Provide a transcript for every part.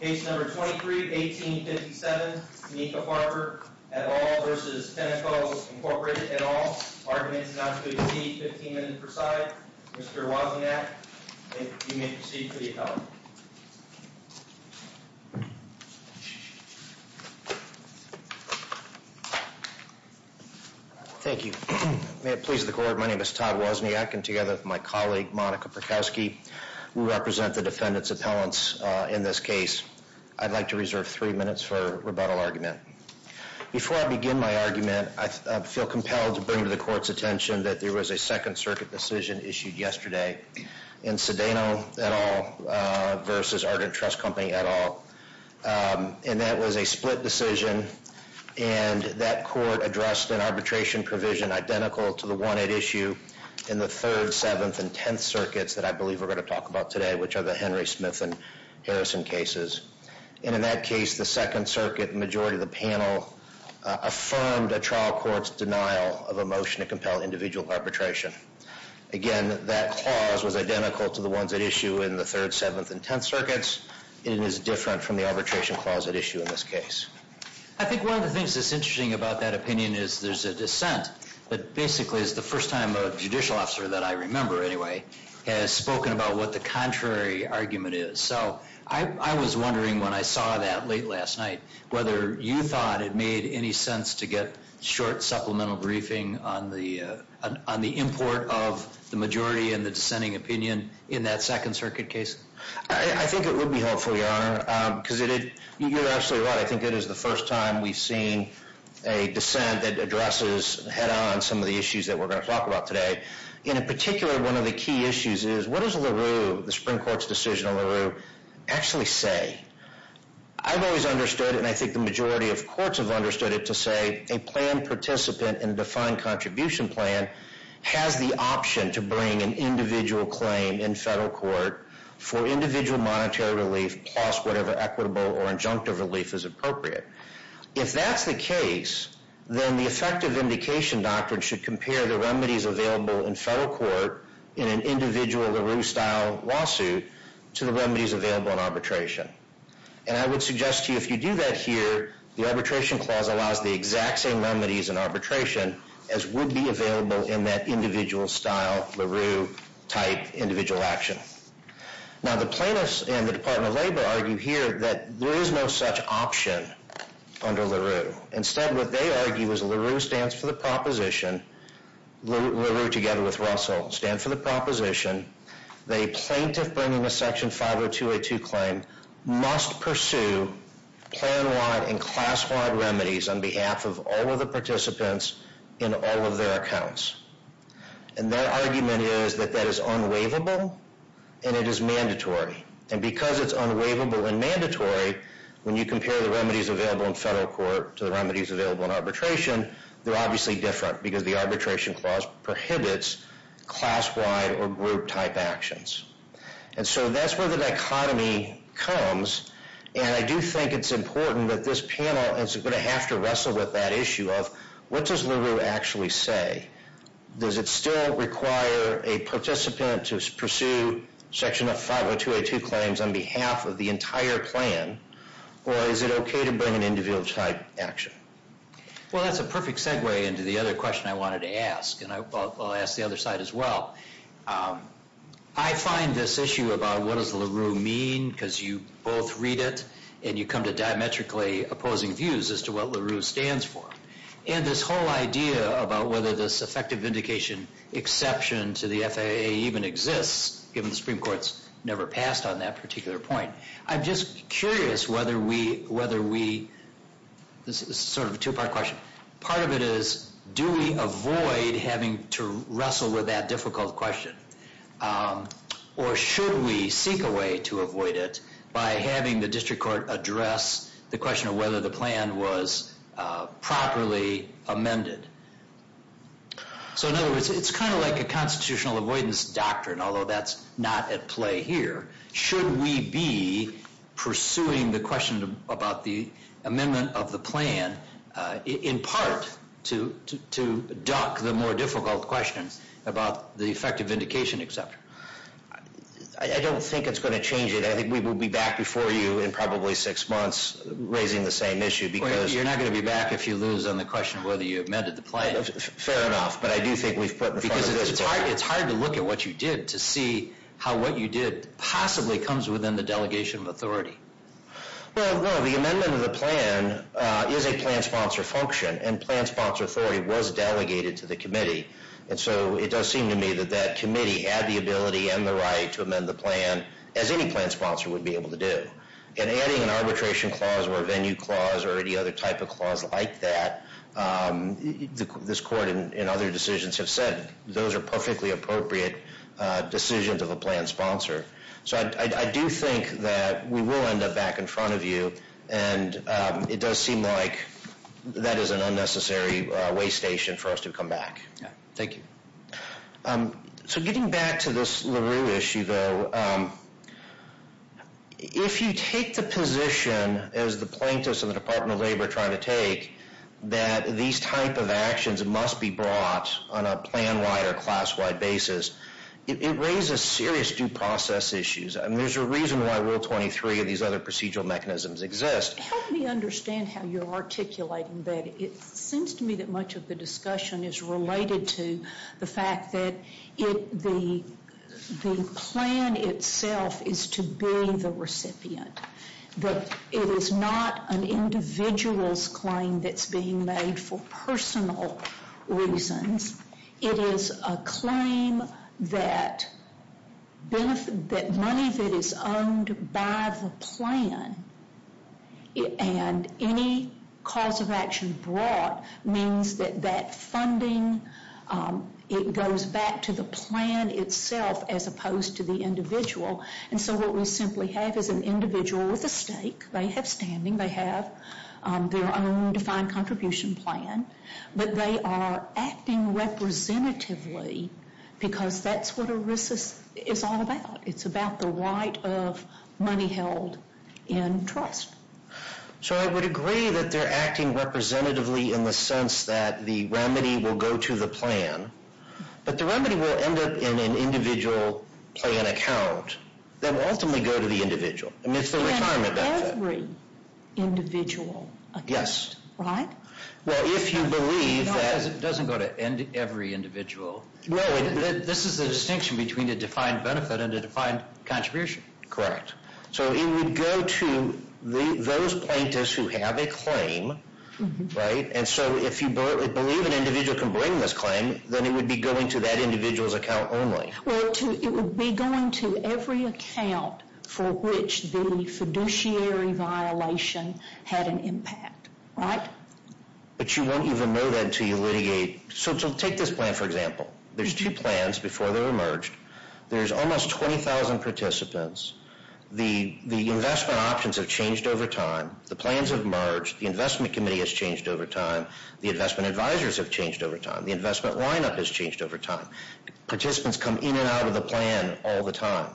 Case number 23-18-57 Tenika Parker et al. v. Tenneco Inc. et al. Arguments not to be received. 15 minutes per side. Mr. Wozniak, you may proceed for the appellant. Thank you. May it please the court, my name is Todd Wozniak and together with my colleague, Monica Perkowski, we represent the defendant's appellants in this case. I'd like to reserve three minutes for rebuttal argument. Before I begin my argument, I feel compelled to bring to the court's attention that there was a Second Circuit decision issued yesterday in Sedano et al. v. Ardent Trust Company et al. And that was a split decision and that court addressed an arbitration provision identical to the one at issue in the Third, Seventh, and Tenth Circuits that I believe we're going to talk about today, which are the Henry, Smith, and Harrison cases. And in that case, the Second Circuit majority of the panel affirmed a trial court's denial of a motion to compel individual arbitration. Again, that clause was identical to the ones at issue in the Third, Seventh, and Tenth Circuits and is different from the arbitration clause at issue in this case. I think one of the things that's interesting about that opinion is there's a dissent, but basically it's the first time a judicial officer, that I remember anyway, has spoken about what the contrary argument is. So I was wondering when I saw that late last night, whether you thought it made any sense to get short supplemental briefing on the import of the majority and the dissenting opinion in that Second Circuit case? I think it would be helpful, Your Honor, because you're absolutely right. I think it is the first time we've seen a dissent that addresses head-on some of the issues that we're going to talk about today. And in particular, one of the key issues is what does LaRue, the Supreme Court's decision on LaRue, actually say? I've always understood, and I think the majority of courts have understood it, to say a plan participant in a defined contribution plan has the option to bring an individual claim in federal court for individual monetary relief plus whatever equitable or injunctive relief is appropriate. If that's the case, then the effective vindication doctrine should compare the remedies available in federal court in an individual LaRue-style lawsuit to the remedies available in arbitration. And I would suggest to you if you do that here, the Arbitration Clause allows the exact same remedies in arbitration as would be available in that individual-style LaRue-type individual action. Now, the plaintiffs and the Department of Labor argue here that there is no such option under LaRue. Instead, what they argue is LaRue stands for the proposition. LaRue, together with Russell, stands for the proposition that a plaintiff bringing a Section 502A2 claim must pursue plan-wide and class-wide remedies on behalf of all of the participants in all of their accounts. And their argument is that that is unwaivable and it is mandatory. And because it's unwaivable and mandatory, when you compare the remedies available in federal court to the remedies available in arbitration, they're obviously different because the Arbitration Clause prohibits class-wide or group-type actions. And so that's where the dichotomy comes, and I do think it's important that this panel is going to have to wrestle with that issue of what does LaRue actually say? Does it still require a participant to pursue Section 502A2 claims on behalf of the entire plan, or is it okay to bring an individual-type action? Well, that's a perfect segue into the other question I wanted to ask, and I'll ask the other side as well. I find this issue about what does LaRue mean, because you both read it and you come to diametrically opposing views as to what LaRue stands for. And this whole idea about whether this effective vindication exception to the FAA even exists, given the Supreme Court's never passed on that particular point. I'm just curious whether we, this is sort of a two-part question, part of it is, do we avoid having to wrestle with that difficult question? Or should we seek a way to avoid it by having the district court address the question of whether the plan was properly amended? So in other words, it's kind of like a constitutional avoidance doctrine, although that's not at play here. Should we be pursuing the question about the amendment of the plan, in part, to duck the more difficult questions about the effective vindication exception? I don't think it's going to change it. I think we will be back before you in probably six months raising the same issue. You're not going to be back if you lose on the question of whether you amended the plan. Fair enough, but I do think we've put in front of this. Because it's hard to look at what you did to see how what you did possibly comes within the delegation of authority. Well, no, the amendment of the plan is a plan sponsor function, and plan sponsor authority was delegated to the committee. And so it does seem to me that that committee had the ability and the right to amend the plan, as any plan sponsor would be able to do. And adding an arbitration clause or a venue clause or any other type of clause like that, this court and other decisions have said, those are perfectly appropriate decisions of a plan sponsor. So I do think that we will end up back in front of you. And it does seem like that is an unnecessary way station for us to come back. Thank you. So getting back to this LaRue issue, though, if you take the position, as the plaintiffs and the Department of Labor are trying to take, that these type of actions must be brought on a plan-wide or class-wide basis, it raises serious due process issues. And there's a reason why Rule 23 and these other procedural mechanisms exist. Help me understand how you're articulating that. It seems to me that much of the discussion is related to the fact that the plan itself is to be the recipient. But it is not an individual's claim that's being made for personal reasons. It is a claim that money that is owned by the plan and any cause of action brought means that that funding, it goes back to the plan itself as opposed to the individual. And so what we simply have is an individual with a stake. They have standing. They have their own defined contribution plan. But they are acting representatively because that's what ERISA is all about. It's about the right of money held in trust. So I would agree that they're acting representatively in the sense that the remedy will go to the plan. But the remedy will end up in an individual plan account that will ultimately go to the individual. I mean, it's the retirement benefit. You have every individual account, right? Well, if you believe that... No, it doesn't go to every individual. No, this is the distinction between a defined benefit and a defined contribution. Correct. So it would go to those plaintiffs who have a claim, right? And so if you believe an individual can bring this claim, then it would be going to that individual's account only. Well, it would be going to every account for which the fiduciary violation had an impact, right? But you won't even know that until you litigate. So take this plan, for example. There's two plans before they were merged. There's almost 20,000 participants. The investment options have changed over time. The plans have merged. The investment committee has changed over time. The investment advisors have changed over time. The investment lineup has changed over time. Participants come in and out of the plan all the time.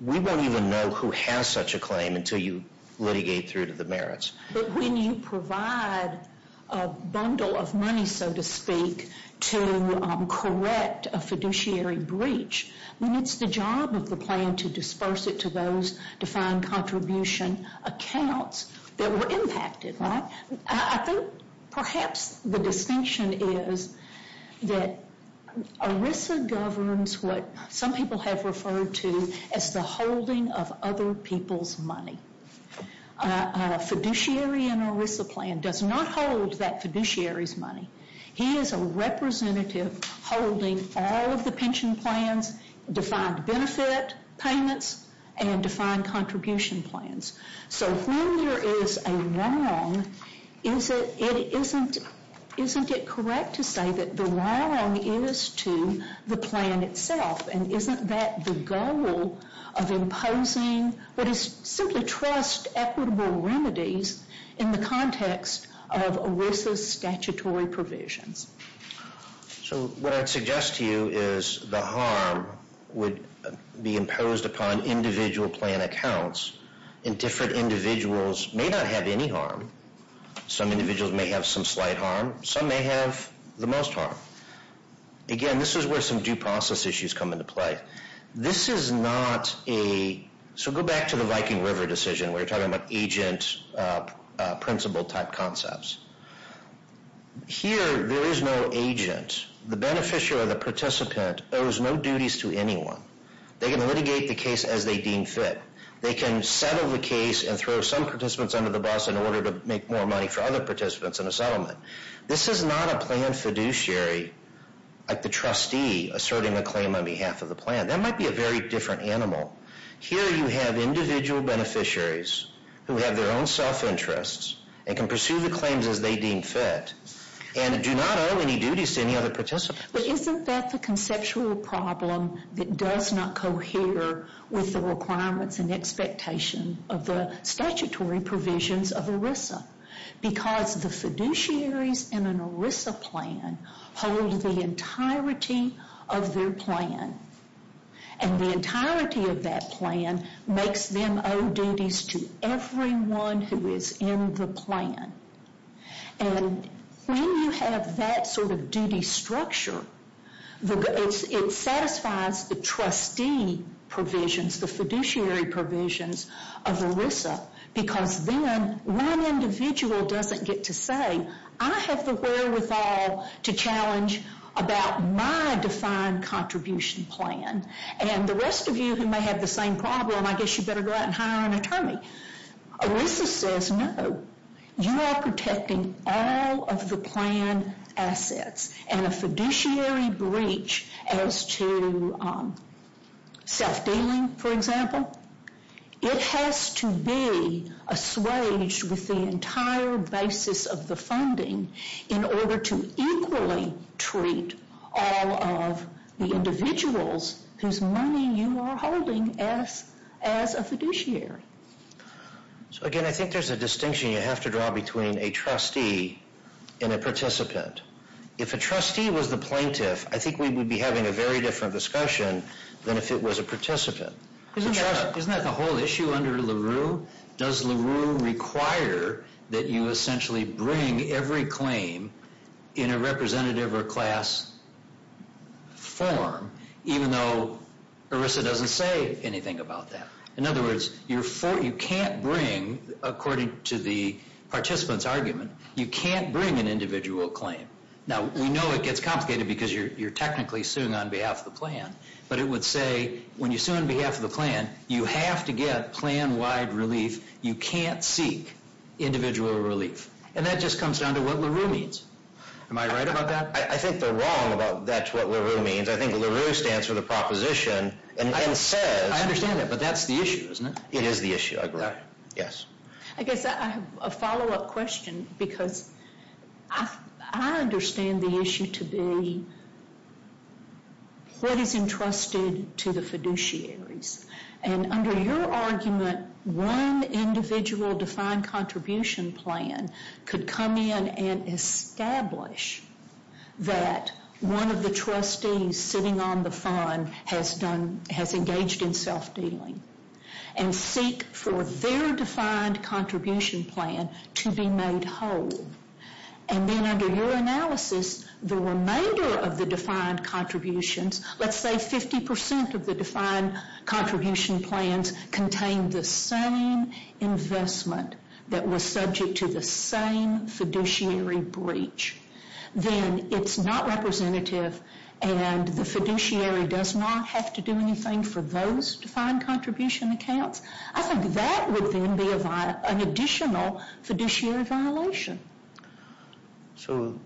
We won't even know who has such a claim until you litigate through to the merits. But when you provide a bundle of money, so to speak, to correct a fiduciary breach, then it's the job of the plan to disperse it to those defined contribution accounts that were impacted, right? I think perhaps the distinction is that ERISA governs what some people have referred to as the holding of other people's money. A fiduciary in an ERISA plan does not hold that fiduciary's money. He is a representative holding all of the pension plans, defined benefit payments, and defined contribution plans. So when there is a wrong, isn't it correct to say that the wrong is to the plan itself? And isn't that the goal of imposing what is simply trust equitable remedies in the context of ERISA's statutory provisions? So what I'd suggest to you is the harm would be imposed upon individual plan accounts. And different individuals may not have any harm. Some individuals may have some slight harm. Some may have the most harm. Again, this is where some due process issues come into play. This is not a, so go back to the Viking River decision where you're talking about agent principle type concepts. Here, there is no agent. The beneficiary or the participant owes no duties to anyone. They can litigate the case as they deem fit. They can settle the case and throw some participants under the bus in order to make more money for other participants in a settlement. This is not a plan fiduciary like the trustee asserting a claim on behalf of the plan. That might be a very different animal. Here, you have individual beneficiaries who have their own self-interests and can pursue the claims as they deem fit and do not owe any duties to any other participants. But isn't that the conceptual problem that does not cohere with the requirements and expectation of the statutory provisions of ERISA? Because the fiduciaries in an ERISA plan hold the entirety of their plan. And the entirety of that plan makes them owe duties to everyone who is in the plan. And when you have that sort of duty structure, it satisfies the trustee provisions, the fiduciary provisions of ERISA. Because then one individual doesn't get to say, I have the wherewithal to challenge about my defined contribution plan. And the rest of you who may have the same problem, I guess you better go out and hire an attorney. ERISA says, no, you are protecting all of the plan assets. And a fiduciary breach as to self-dealing, for example, it has to be assuaged with the entire basis of the funding in order to equally treat all of the individuals whose money you are holding as a fiduciary. So again, I think there's a distinction you have to draw between a trustee and a participant. If a trustee was the plaintiff, I think we would be having a very different discussion than if it was a participant. Isn't that the whole issue under LaRue? Does LaRue require that you essentially bring every claim in a representative or class form, even though ERISA doesn't say anything about that? In other words, you can't bring, according to the participant's argument, you can't bring an individual claim. Now, we know it gets complicated because you're technically suing on behalf of the plan. But it would say, when you sue on behalf of the plan, you have to get plan-wide relief. You can't seek individual relief. And that just comes down to what LaRue means. Am I right about that? I think they're wrong about that's what LaRue means. I think LaRue stands for the proposition and says... I understand that, but that's the issue, isn't it? It is the issue. I agree. Yes. I guess I have a follow-up question because I understand the issue to be what is entrusted to the fiduciaries. And under your argument, one individual defined contribution plan could come in and establish that one of the trustees sitting on the fund has engaged in self-dealing and seek for their defined contribution plan to be made whole. And then under your analysis, the remainder of the defined contributions, let's say 50% of the defined contribution plans contain the same investment that was subject to the same fiduciary breach. Then it's not representative and the fiduciary does not have to do anything for those defined contribution accounts. I think that would then be an additional fiduciary violation. So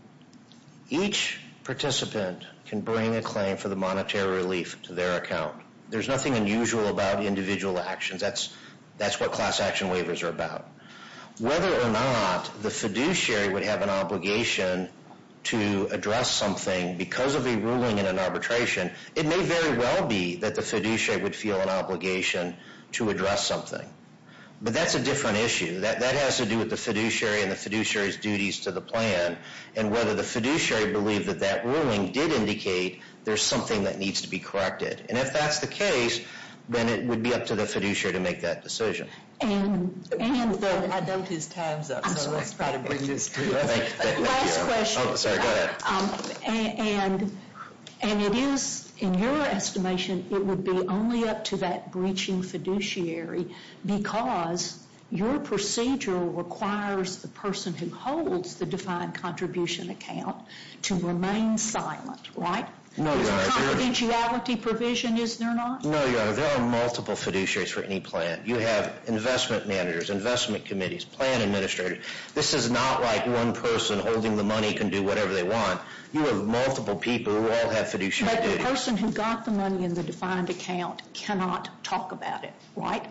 each participant can bring a claim for the monetary relief to their account. There's nothing unusual about individual actions. That's what class action waivers are about. Whether or not the fiduciary would have an obligation to address something because of a ruling in an arbitration, it may very well be that the fiduciary would feel an obligation to address something. But that's a different issue. That has to do with the fiduciary and the fiduciary's duties to the plan. And whether the fiduciary believed that that ruling did indicate there's something that needs to be corrected. And if that's the case, then it would be up to the fiduciary to make that decision. And... I dumped his time up, so let's try to bring this to a close. Last question. Sorry, go ahead. And it is, in your estimation, it would be only up to that breaching fiduciary because your procedure requires the person who holds the defined contribution account to remain silent, right? No, Your Honor. It's a confidentiality provision, is there not? No, Your Honor. There are multiple fiduciaries for any plan. You have investment managers, investment committees, plan administrators. This is not like one person holding the money can do whatever they want. You have multiple people who all have fiduciary duties. But the person who got the money in the defined account cannot talk about it, right?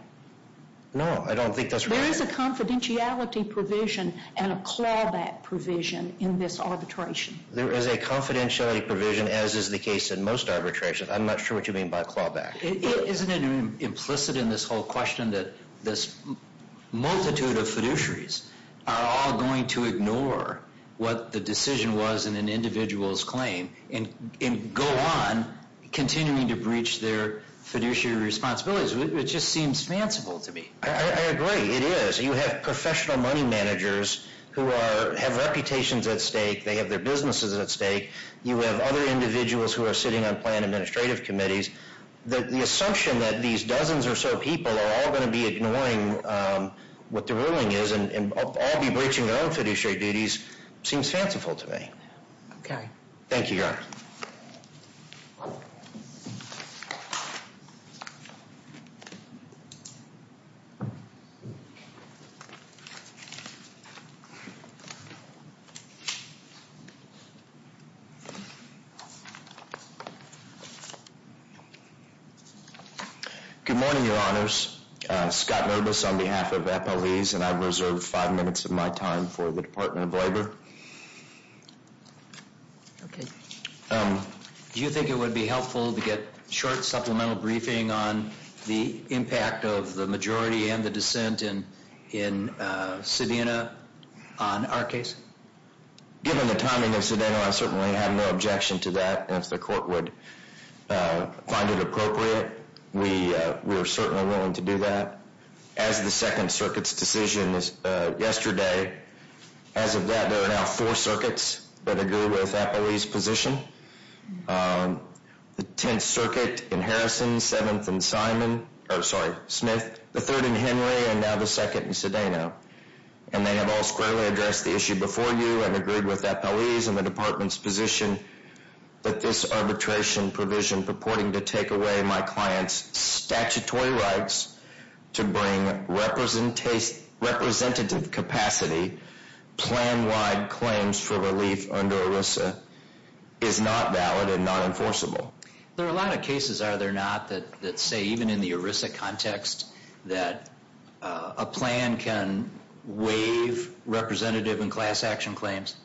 No, I don't think that's right. There is a confidentiality provision and a clawback provision in this arbitration. There is a confidentiality provision, as is the case in most arbitrations. I'm not sure what you mean by clawback. Isn't it implicit in this whole question that this multitude of fiduciaries are all going to ignore what the decision was in an individual's claim and go on continuing to breach their fiduciary responsibilities? It just seems fanciful to me. I agree. It is. You have professional money managers who have reputations at stake. They have their businesses at stake. You have other individuals who are sitting on plan administrative committees. The assumption that these dozens or so people are all going to be ignoring what the ruling is and all be breaching their own fiduciary duties seems fanciful to me. Okay. Thank you, Your Honor. Good morning, Your Honors. Scott Nurbis on behalf of FLEs, and I've reserved five minutes of my time for the Department of Labor. Okay. Do you think it would be helpful to get a short supplemental briefing on the impact of the majority and the dissent in Sedena on our case? Given the timing of Sedena, I certainly have no objection to that. If the court would find it appropriate, we are certainly willing to do that. As of the Second Circuit's decision yesterday, as of that there are now four circuits that agree with Appleby's position. The Tenth Circuit in Harrison, Seventh in Smith, the Third in Henry, and now the Second in Sedena. And they have all squarely addressed the issue before you and agreed with Appleby's and the Department's position that this arbitration provision purporting to take away my client's statutory rights to bring representative capacity plan-wide claims for relief under ERISA is not valid and not enforceable. There are a lot of cases, are there not, that say even in the ERISA context that a plan can waive representative and class action claims?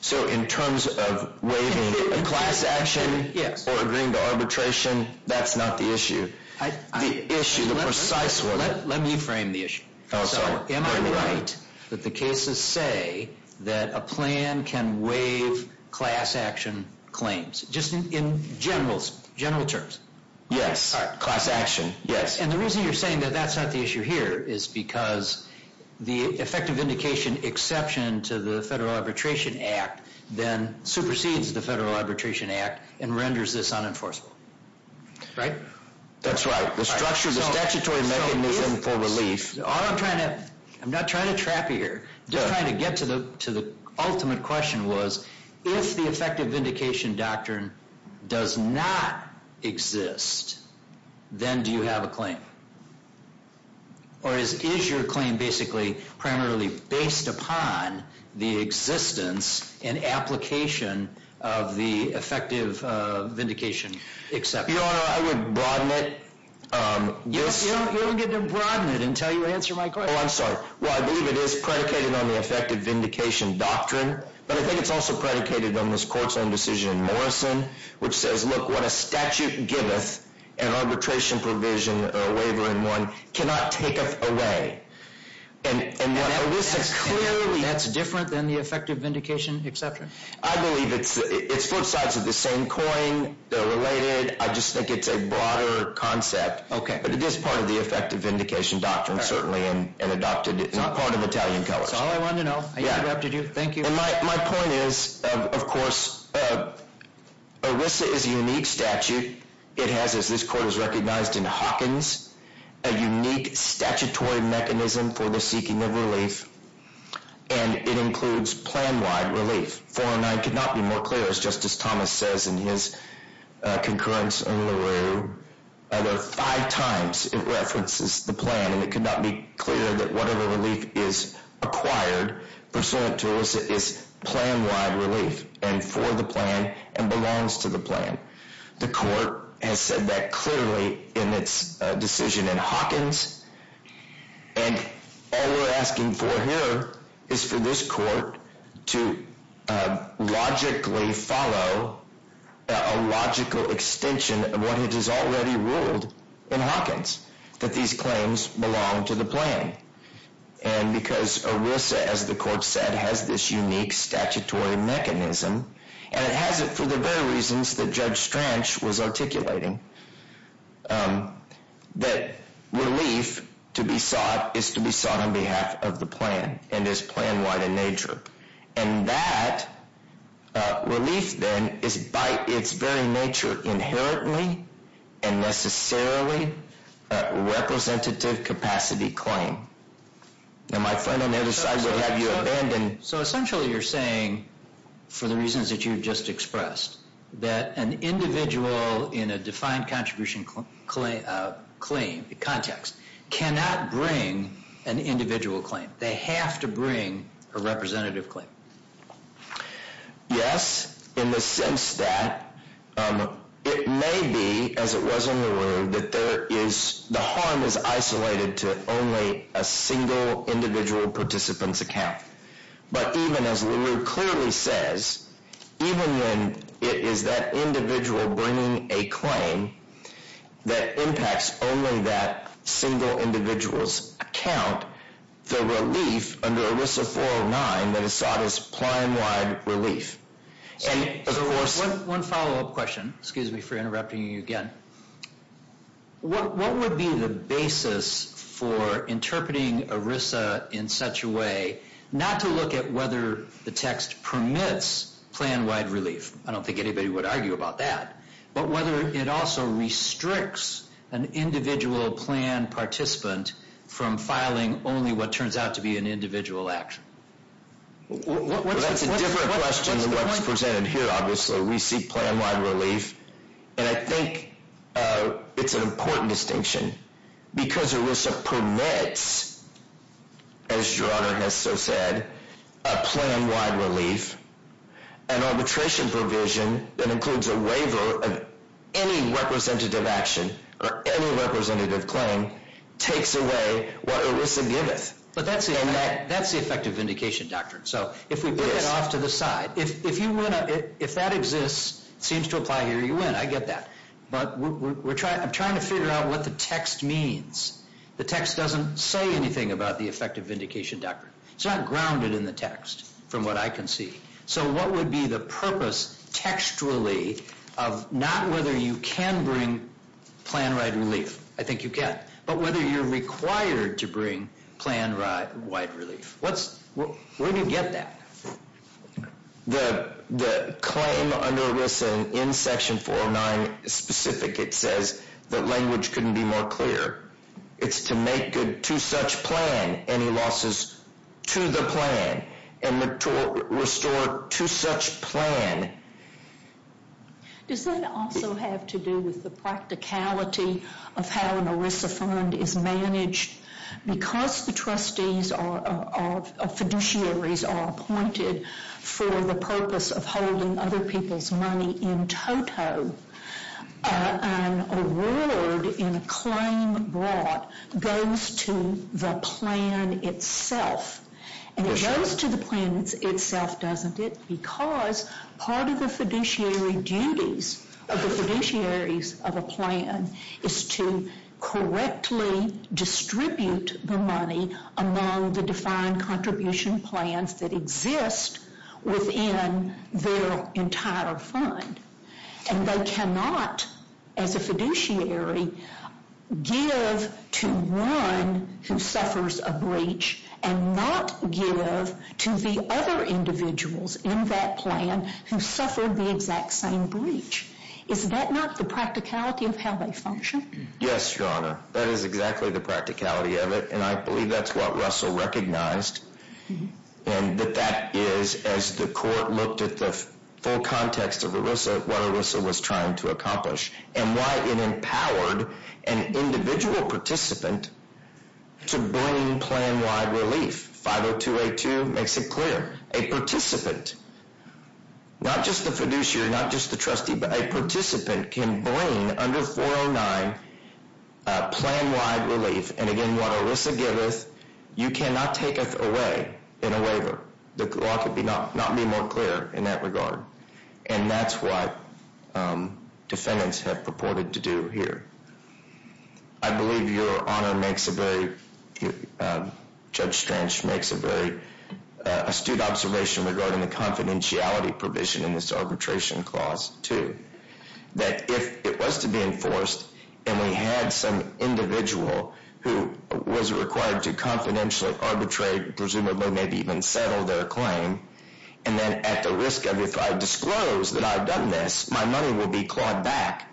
So in terms of waiving a class action or agreeing to arbitration, that's not the issue. The issue, the precise one. Let me frame the issue. Am I right that the cases say that a plan can waive class action claims? Just in general terms. Yes, class action, yes. And the reason you're saying that that's not the issue here is because the effective vindication exception to the Federal Arbitration Act then supersedes the Federal Arbitration Act and renders this unenforceable. Right? That's right. The structure, the statutory mechanism for relief. All I'm trying to, I'm not trying to trap you here. Just trying to get to the ultimate question was if the effective vindication doctrine does not exist, then do you have a claim? Or is your claim basically primarily based upon the existence and application of the effective vindication exception? Your Honor, I would broaden it. You don't get to broaden it until you answer my question. Oh, I'm sorry. Well, I believe it is predicated on the effective vindication doctrine. But I think it's also predicated on this court's own decision in Morrison, which says, look, what a statute giveth, an arbitration provision, or a waiver in one, cannot taketh away. Now, that's different than the effective vindication exception? I believe it's both sides of the same coin. They're related. I just think it's a broader concept. Okay. But it is part of the effective vindication doctrine, certainly, and adopted as part of the Italian Clause. That's all I wanted to know. Thank you. My point is, of course, ERISA is a unique statute. It has, as this court has recognized in Hawkins, a unique statutory mechanism for the seeking of relief, and it includes plan-wide relief. 409 could not be more clear. As Justice Thomas says in his concurrence in LaRue, five times it references the plan, and it could not be clearer that whatever relief is acquired, pursuant to ERISA, is plan-wide relief, and for the plan, and belongs to the plan. The court has said that clearly in its decision in Hawkins, and all we're asking for here is for this court to logically follow a logical extension of what it has already ruled in Hawkins, that these claims belong to the plan. And because ERISA, as the court said, has this unique statutory mechanism, and it has it for the very reasons that Judge Stranch was articulating, that relief to be sought is to be sought on behalf of the plan, and is plan-wide in nature. And that relief, then, is by its very nature inherently and necessarily a representative capacity claim. And my friend on the other side would have you abandon... So essentially you're saying, for the reasons that you've just expressed, that an individual in a defined contribution claim context cannot bring an individual claim. They have to bring a representative claim. Yes, in the sense that it may be, as it was in LaRue, that the harm is isolated to only a single individual participant's account. But even as LaRue clearly says, even when it is that individual bringing a claim that impacts only that single individual's account, the relief under ERISA 409 that is sought is plan-wide relief. One follow-up question. Excuse me for interrupting you again. What would be the basis for interpreting ERISA in such a way not to look at whether the text permits plan-wide relief? I don't think anybody would argue about that. But whether it also restricts an individual plan participant from filing only what turns out to be an individual action. That's a different question than what's presented here, obviously. We seek plan-wide relief. And I think it's an important distinction. Because ERISA permits, as your Honor has so said, a plan-wide relief, an arbitration provision that includes a waiver of any representative action or any representative claim takes away what ERISA giveth. But that's the effective vindication doctrine. So if we put it off to the side, if that exists, seems to apply here, you win. I get that. But I'm trying to figure out what the text means. The text doesn't say anything about the effective vindication doctrine. It's not grounded in the text from what I can see. So what would be the purpose textually of not whether you can bring plan-wide relief, I think you can, but whether you're required to bring plan-wide relief. Where do you get that? The claim under ERISA in Section 409 is specific. It says that language couldn't be more clear. It's to make to such plan any losses to the plan and to restore to such plan. Does that also have to do with the practicality of how an ERISA fund is managed? Because the trustees or fiduciaries are appointed for the purpose of holding other people's money in toto, an award in a claim brought goes to the plan itself. And it goes to the plan itself, doesn't it? Because part of the fiduciary duties of the fiduciaries of a plan is to correctly distribute the money among the defined contribution plans that exist within their entire fund. And they cannot, as a fiduciary, give to one who suffers a breach and not give to the other individuals in that plan who suffered the exact same breach. Is that not the practicality of how they function? Yes, Your Honor. That is exactly the practicality of it and I believe that's what Russell recognized and that that is, as the court looked at the full context of ERISA, what ERISA was trying to accomplish and why it empowered an individual participant to bring plan-wide relief. 50282 makes it clear. A participant, not just the fiduciary, not just the trustee, but a participant can bring under 409 plan-wide relief and again, what ERISA giveth, you cannot taketh away in a waiver. The law could not be more clear in that regard. And that's what defendants have purported to do here. I believe Your Honor makes a very, Judge Strange makes a very astute observation regarding the confidentiality provision in this arbitration clause too. That if it was to be enforced and we had some individual who was required to confidentially arbitrate, presumably maybe even settle their claim, and then at the risk of if I disclose that I've done this, my money will be clawed back.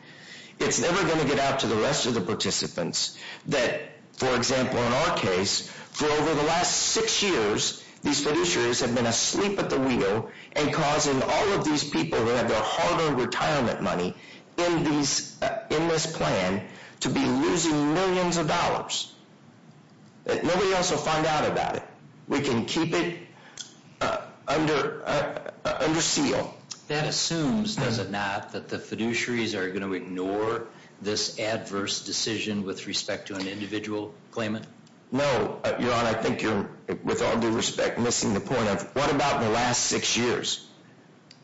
It's never going to get out to the rest of the participants that, for example, in our case, for over the last six years, these fiduciaries have been asleep at the wheel and causing all of these people that have their hard-earned retirement money in this plan to be losing millions of dollars. Nobody else will find out about it. We can keep it under seal. That assumes, does it not, that the fiduciaries are going to ignore this adverse decision with respect to an individual claimant? No, Your Honor, I think you're, with all due respect, missing the point of what about the last six years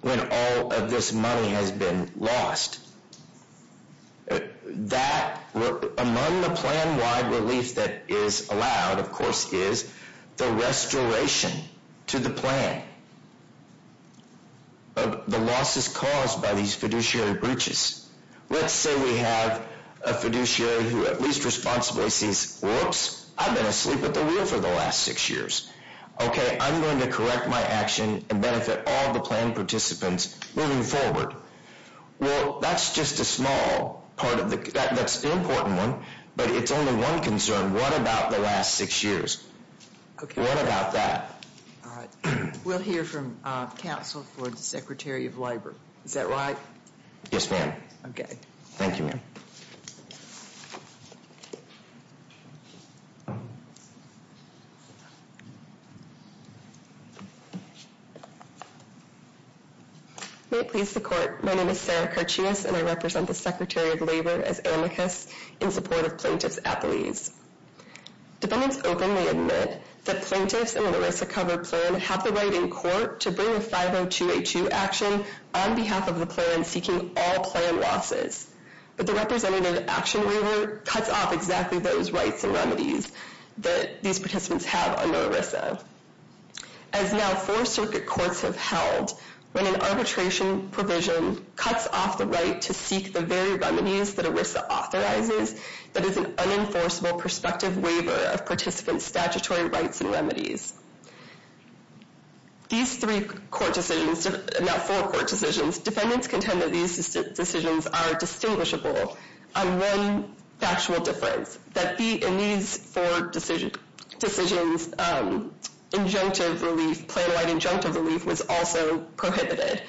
when all of this money has been lost? That, among the plan-wide relief that is allowed, of course, is the restoration to the plan. But the loss is caused by these fiduciary breaches. Let's say we have a fiduciary who at least responsibly sees, whoops, I've been asleep at the wheel for the last six years. Okay, I'm going to correct my action and benefit all the plan participants moving forward. Well, that's just a small part of the, that's an important one, but it's only one concern. What about the last six years? What about that? All right. We'll hear from counsel for the Secretary of Labor. Is that right? Yes, ma'am. Okay. Thank you, ma'am. May it please the Court, my name is Sarah Kirchius, and I represent the Secretary of Labor as amicus in support of plaintiffs at the lease. Dependents openly admit that plaintiffs in an ERISA-covered plan have the right in court to bring a 502-H2 action on behalf of the plan seeking all plan losses. But the representative action waiver cuts off exactly those rights and remedies that these participants have under ERISA. As now four circuit courts have held, when an arbitration provision cuts off the right to seek the very remedies that ERISA authorizes, that is an unenforceable prospective waiver of participants' statutory rights and remedies. These three court decisions, not four court decisions, defendants contend that these decisions are distinguishable on one factual difference, that in these four decisions, injunctive relief, plan-wide injunctive relief, was also prohibited.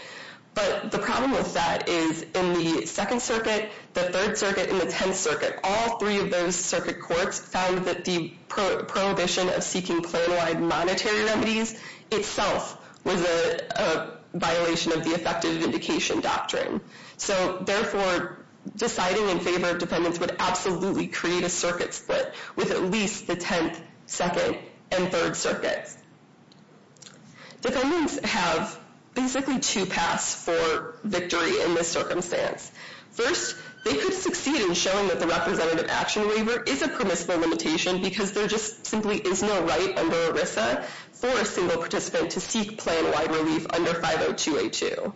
But the problem with that is in the Second Circuit, the Third Circuit, and the Tenth Circuit, all three of those circuit courts found that the prohibition of seeking plan-wide monetary remedies itself was a violation of the effective indication doctrine. So therefore, deciding in favor of defendants would absolutely create a circuit split with at least the Tenth, Second, and Third Circuits. Defendants have basically two paths for victory in this circumstance. First, they could succeed in showing that the representative action waiver is a permissible limitation because there just simply is no right under ERISA for a single participant to seek plan-wide relief under 50282.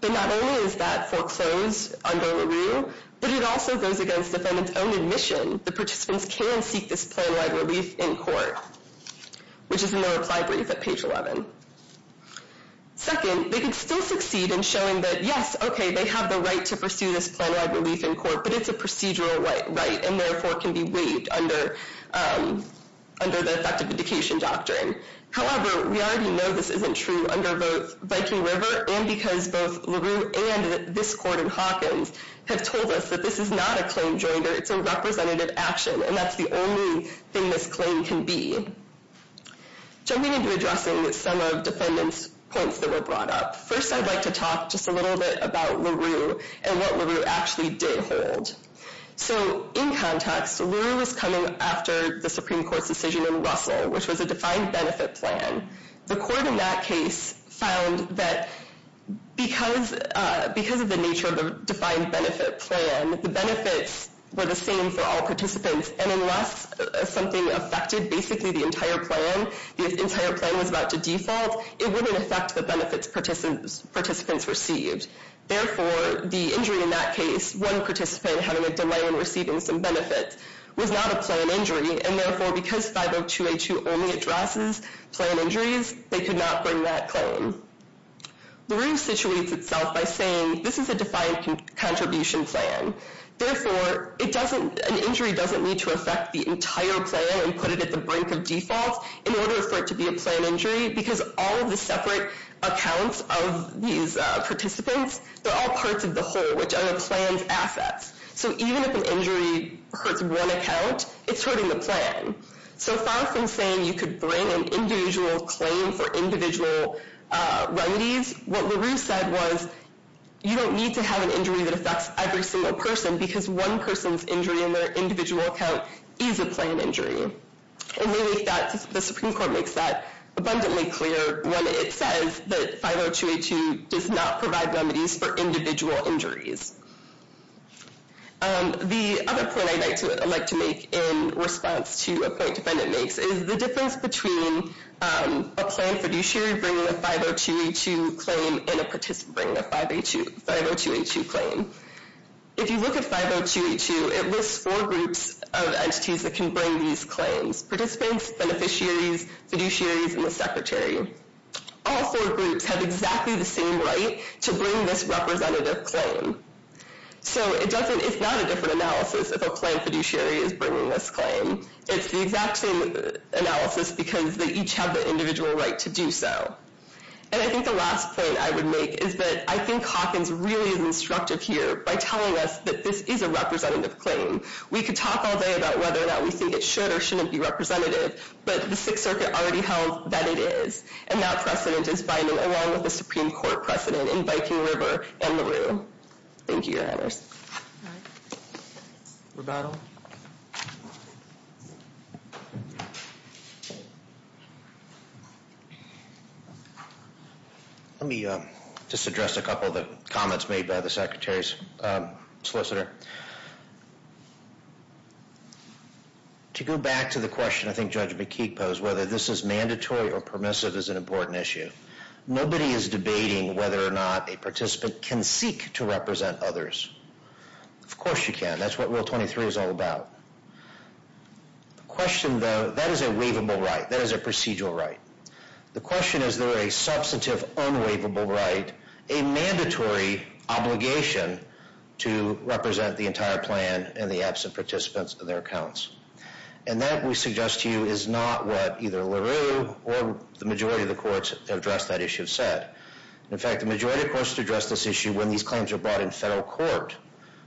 But not only is that foreclosed under LaRue, but it also goes against defendants' own admission that participants can seek this plan-wide relief in court, which is in the reply brief at page 11. Second, they can still succeed in showing that, yes, okay, they have the right to pursue this plan-wide relief in court, but it's a procedural right, and therefore can be waived under the effective indication doctrine. However, we already know this isn't true under both Viking River and because both LaRue and this court in Hawkins have told us that this is not a claim joinder. It's a representative action, and that's the only thing this claim can be. Jumping into addressing some of defendants' points that were brought up, first I'd like to talk just a little bit about LaRue and what LaRue actually did hold. So in context, LaRue was coming after the Supreme Court's decision in Russell, which was a defined benefit plan. The court in that case found that because of the nature of the defined benefit plan, the benefits were the same for all participants, and unless something affected basically the entire plan, the entire plan was about to default, it wouldn't affect the benefits participants received. Therefore, the injury in that case, one participant having a delay in receiving some benefits, was not a plan injury, and therefore because 502A2 only addresses plan injuries, they could not bring that claim. LaRue situates itself by saying this is a defined contribution plan. Therefore, an injury doesn't need to affect the entire plan and put it at the brink of default in order for it to be a plan injury because all of the separate accounts of these participants, they're all parts of the whole, which are the plan's assets. So even if an injury hurts one account, it's hurting the plan. So far from saying you could bring an individual claim for individual remedies, what LaRue said was you don't need to have an injury that affects every single person because one person's injury in their individual account is a plan injury. The Supreme Court makes that abundantly clear when it says that 502A2 does not provide remedies for individual injuries. The other point I'd like to make in response to a point defendant makes is the difference between a plan fiduciary bringing a 502A2 claim and a participant bringing a 502A2 claim. If you look at 502A2, it lists four groups of entities that can bring these claims, participants, beneficiaries, fiduciaries, and the secretary. All four groups have exactly the same right to bring this representative claim. So it's not a different analysis if a plan fiduciary is bringing this claim. It's the exact same analysis because they each have the individual right to do so. And I think the last point I would make is that I think Hawkins really is instructive here by telling us that this is a representative claim. We could talk all day about whether or not we think it should or shouldn't be representative, but the Sixth Circuit already held that it is, and that precedent is binding along with the Supreme Court precedent in Viking River and LaRue. Thank you, Your Honors. Rebuttal. Let me just address a couple of the comments made by the secretary's solicitor. To go back to the question I think Judge McKeague posed, whether this is mandatory or permissive is an important issue. Nobody is debating whether or not a participant can seek to represent others. Of course you can. That's what Rule 23 is all about. The question, though, that is a waivable right. That is a procedural right. The question is, is there a substantive, unwaivable right, a mandatory obligation to represent the entire plan and the absent participants and their accounts? And that, we suggest to you, is not what either LaRue or the majority of the courts have addressed that issue have said. In fact, the majority of courts have addressed this issue when these claims were brought in federal court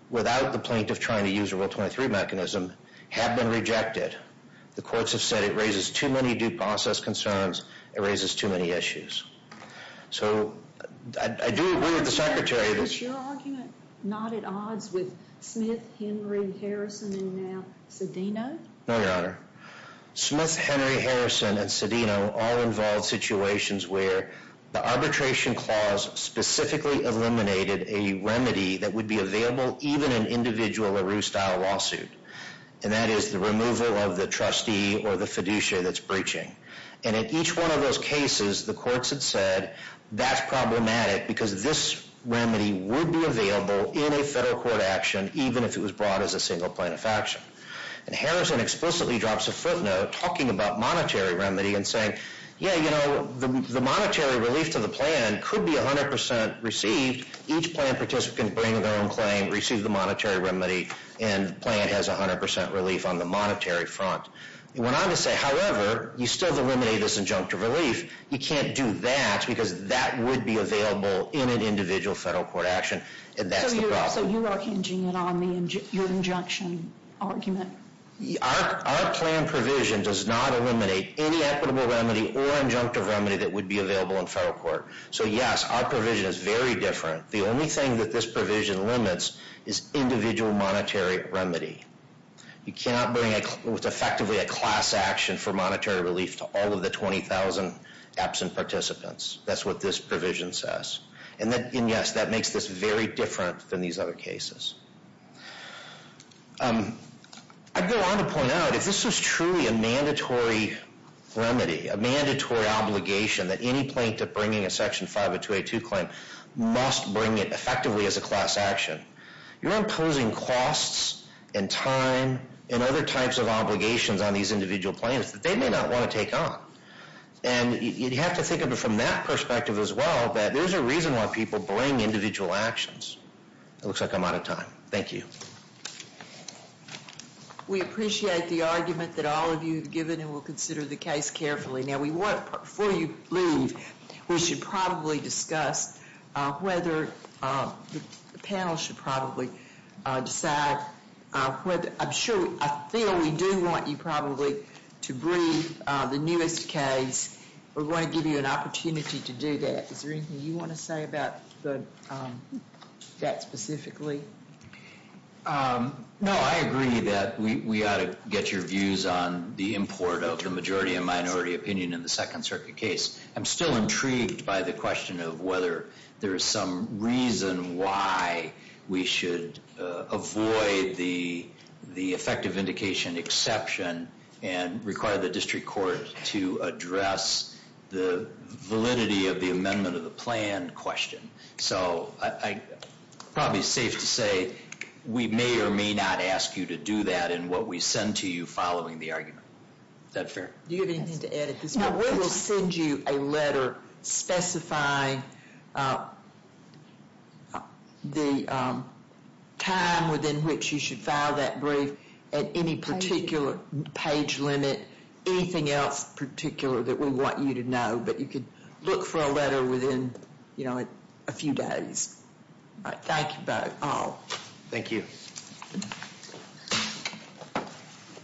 without the plaintiff trying to use a Rule 23 mechanism have been rejected. The courts have said it raises too many due process concerns. It raises too many issues. So I do agree with the secretary. Is your argument not at odds with Smith, Henry, Harrison, and now Cedeno? No, Your Honor. Smith, Henry, Harrison, and Cedeno all involved situations where the arbitration clause specifically eliminated a remedy that would be available even in an individual LaRue-style lawsuit. And that is the removal of the trustee or the fiduciary that's breaching. And in each one of those cases, the courts have said that's problematic because this remedy would be available in a federal court action even if it was brought as a single plaintiff action. And Harrison explicitly drops a footnote talking about monetary remedy and saying, yeah, you know, the monetary relief to the plan could be 100% received. Each plan participant bringing their own claim receives the monetary remedy and the plan has 100% relief on the monetary front. He went on to say, however, you still eliminate this injunctive relief. You can't do that because that would be available in an individual federal court action. And that's the problem. So you are hinging it on your injunction argument? Our plan provision does not eliminate any equitable remedy or injunctive remedy that would be available in federal court. So yes, our provision is very different. The only thing that this provision limits is individual monetary remedy. You cannot bring effectively a class action for monetary relief to all of the 20,000 absent participants. That's what this provision says. And yes, that makes this very different than these other cases. I'd go on to point out, if this was truly a mandatory remedy, a mandatory obligation that any plaintiff bringing a Section 50282 claim must bring it effectively as a class action, you're imposing costs and time and other types of obligations on these individual plaintiffs that they may not want to take on. And you'd have to think of it from that perspective as well, that there's a reason why people bring individual actions. It looks like I'm out of time. Thank you. We appreciate the argument that all of you have given and will consider the case carefully. Now we want, before you leave, we should probably discuss whether the panel should probably decide, I'm sure, I feel we do want you probably to brief the newest case. We're going to give you an opportunity to do that. Is there anything you want to say about that specifically? No, I agree that we ought to get your views on the import of the majority and minority opinion in the Second Circuit case. I'm still intrigued by the question of whether there is some reason why we should avoid the effective indication exception and require the district court to address the validity of the amendment of the plan question. So probably safe to say we may or may not ask you to do that in what we send to you following the argument. Is that fair? Do you have anything to add at this point? No, we will send you a letter specifying the time within which you should file that brief at any particular page limit, anything else particular that we want you to know. But you could look for a letter within, you know, a few days. Thank you both. Thank you.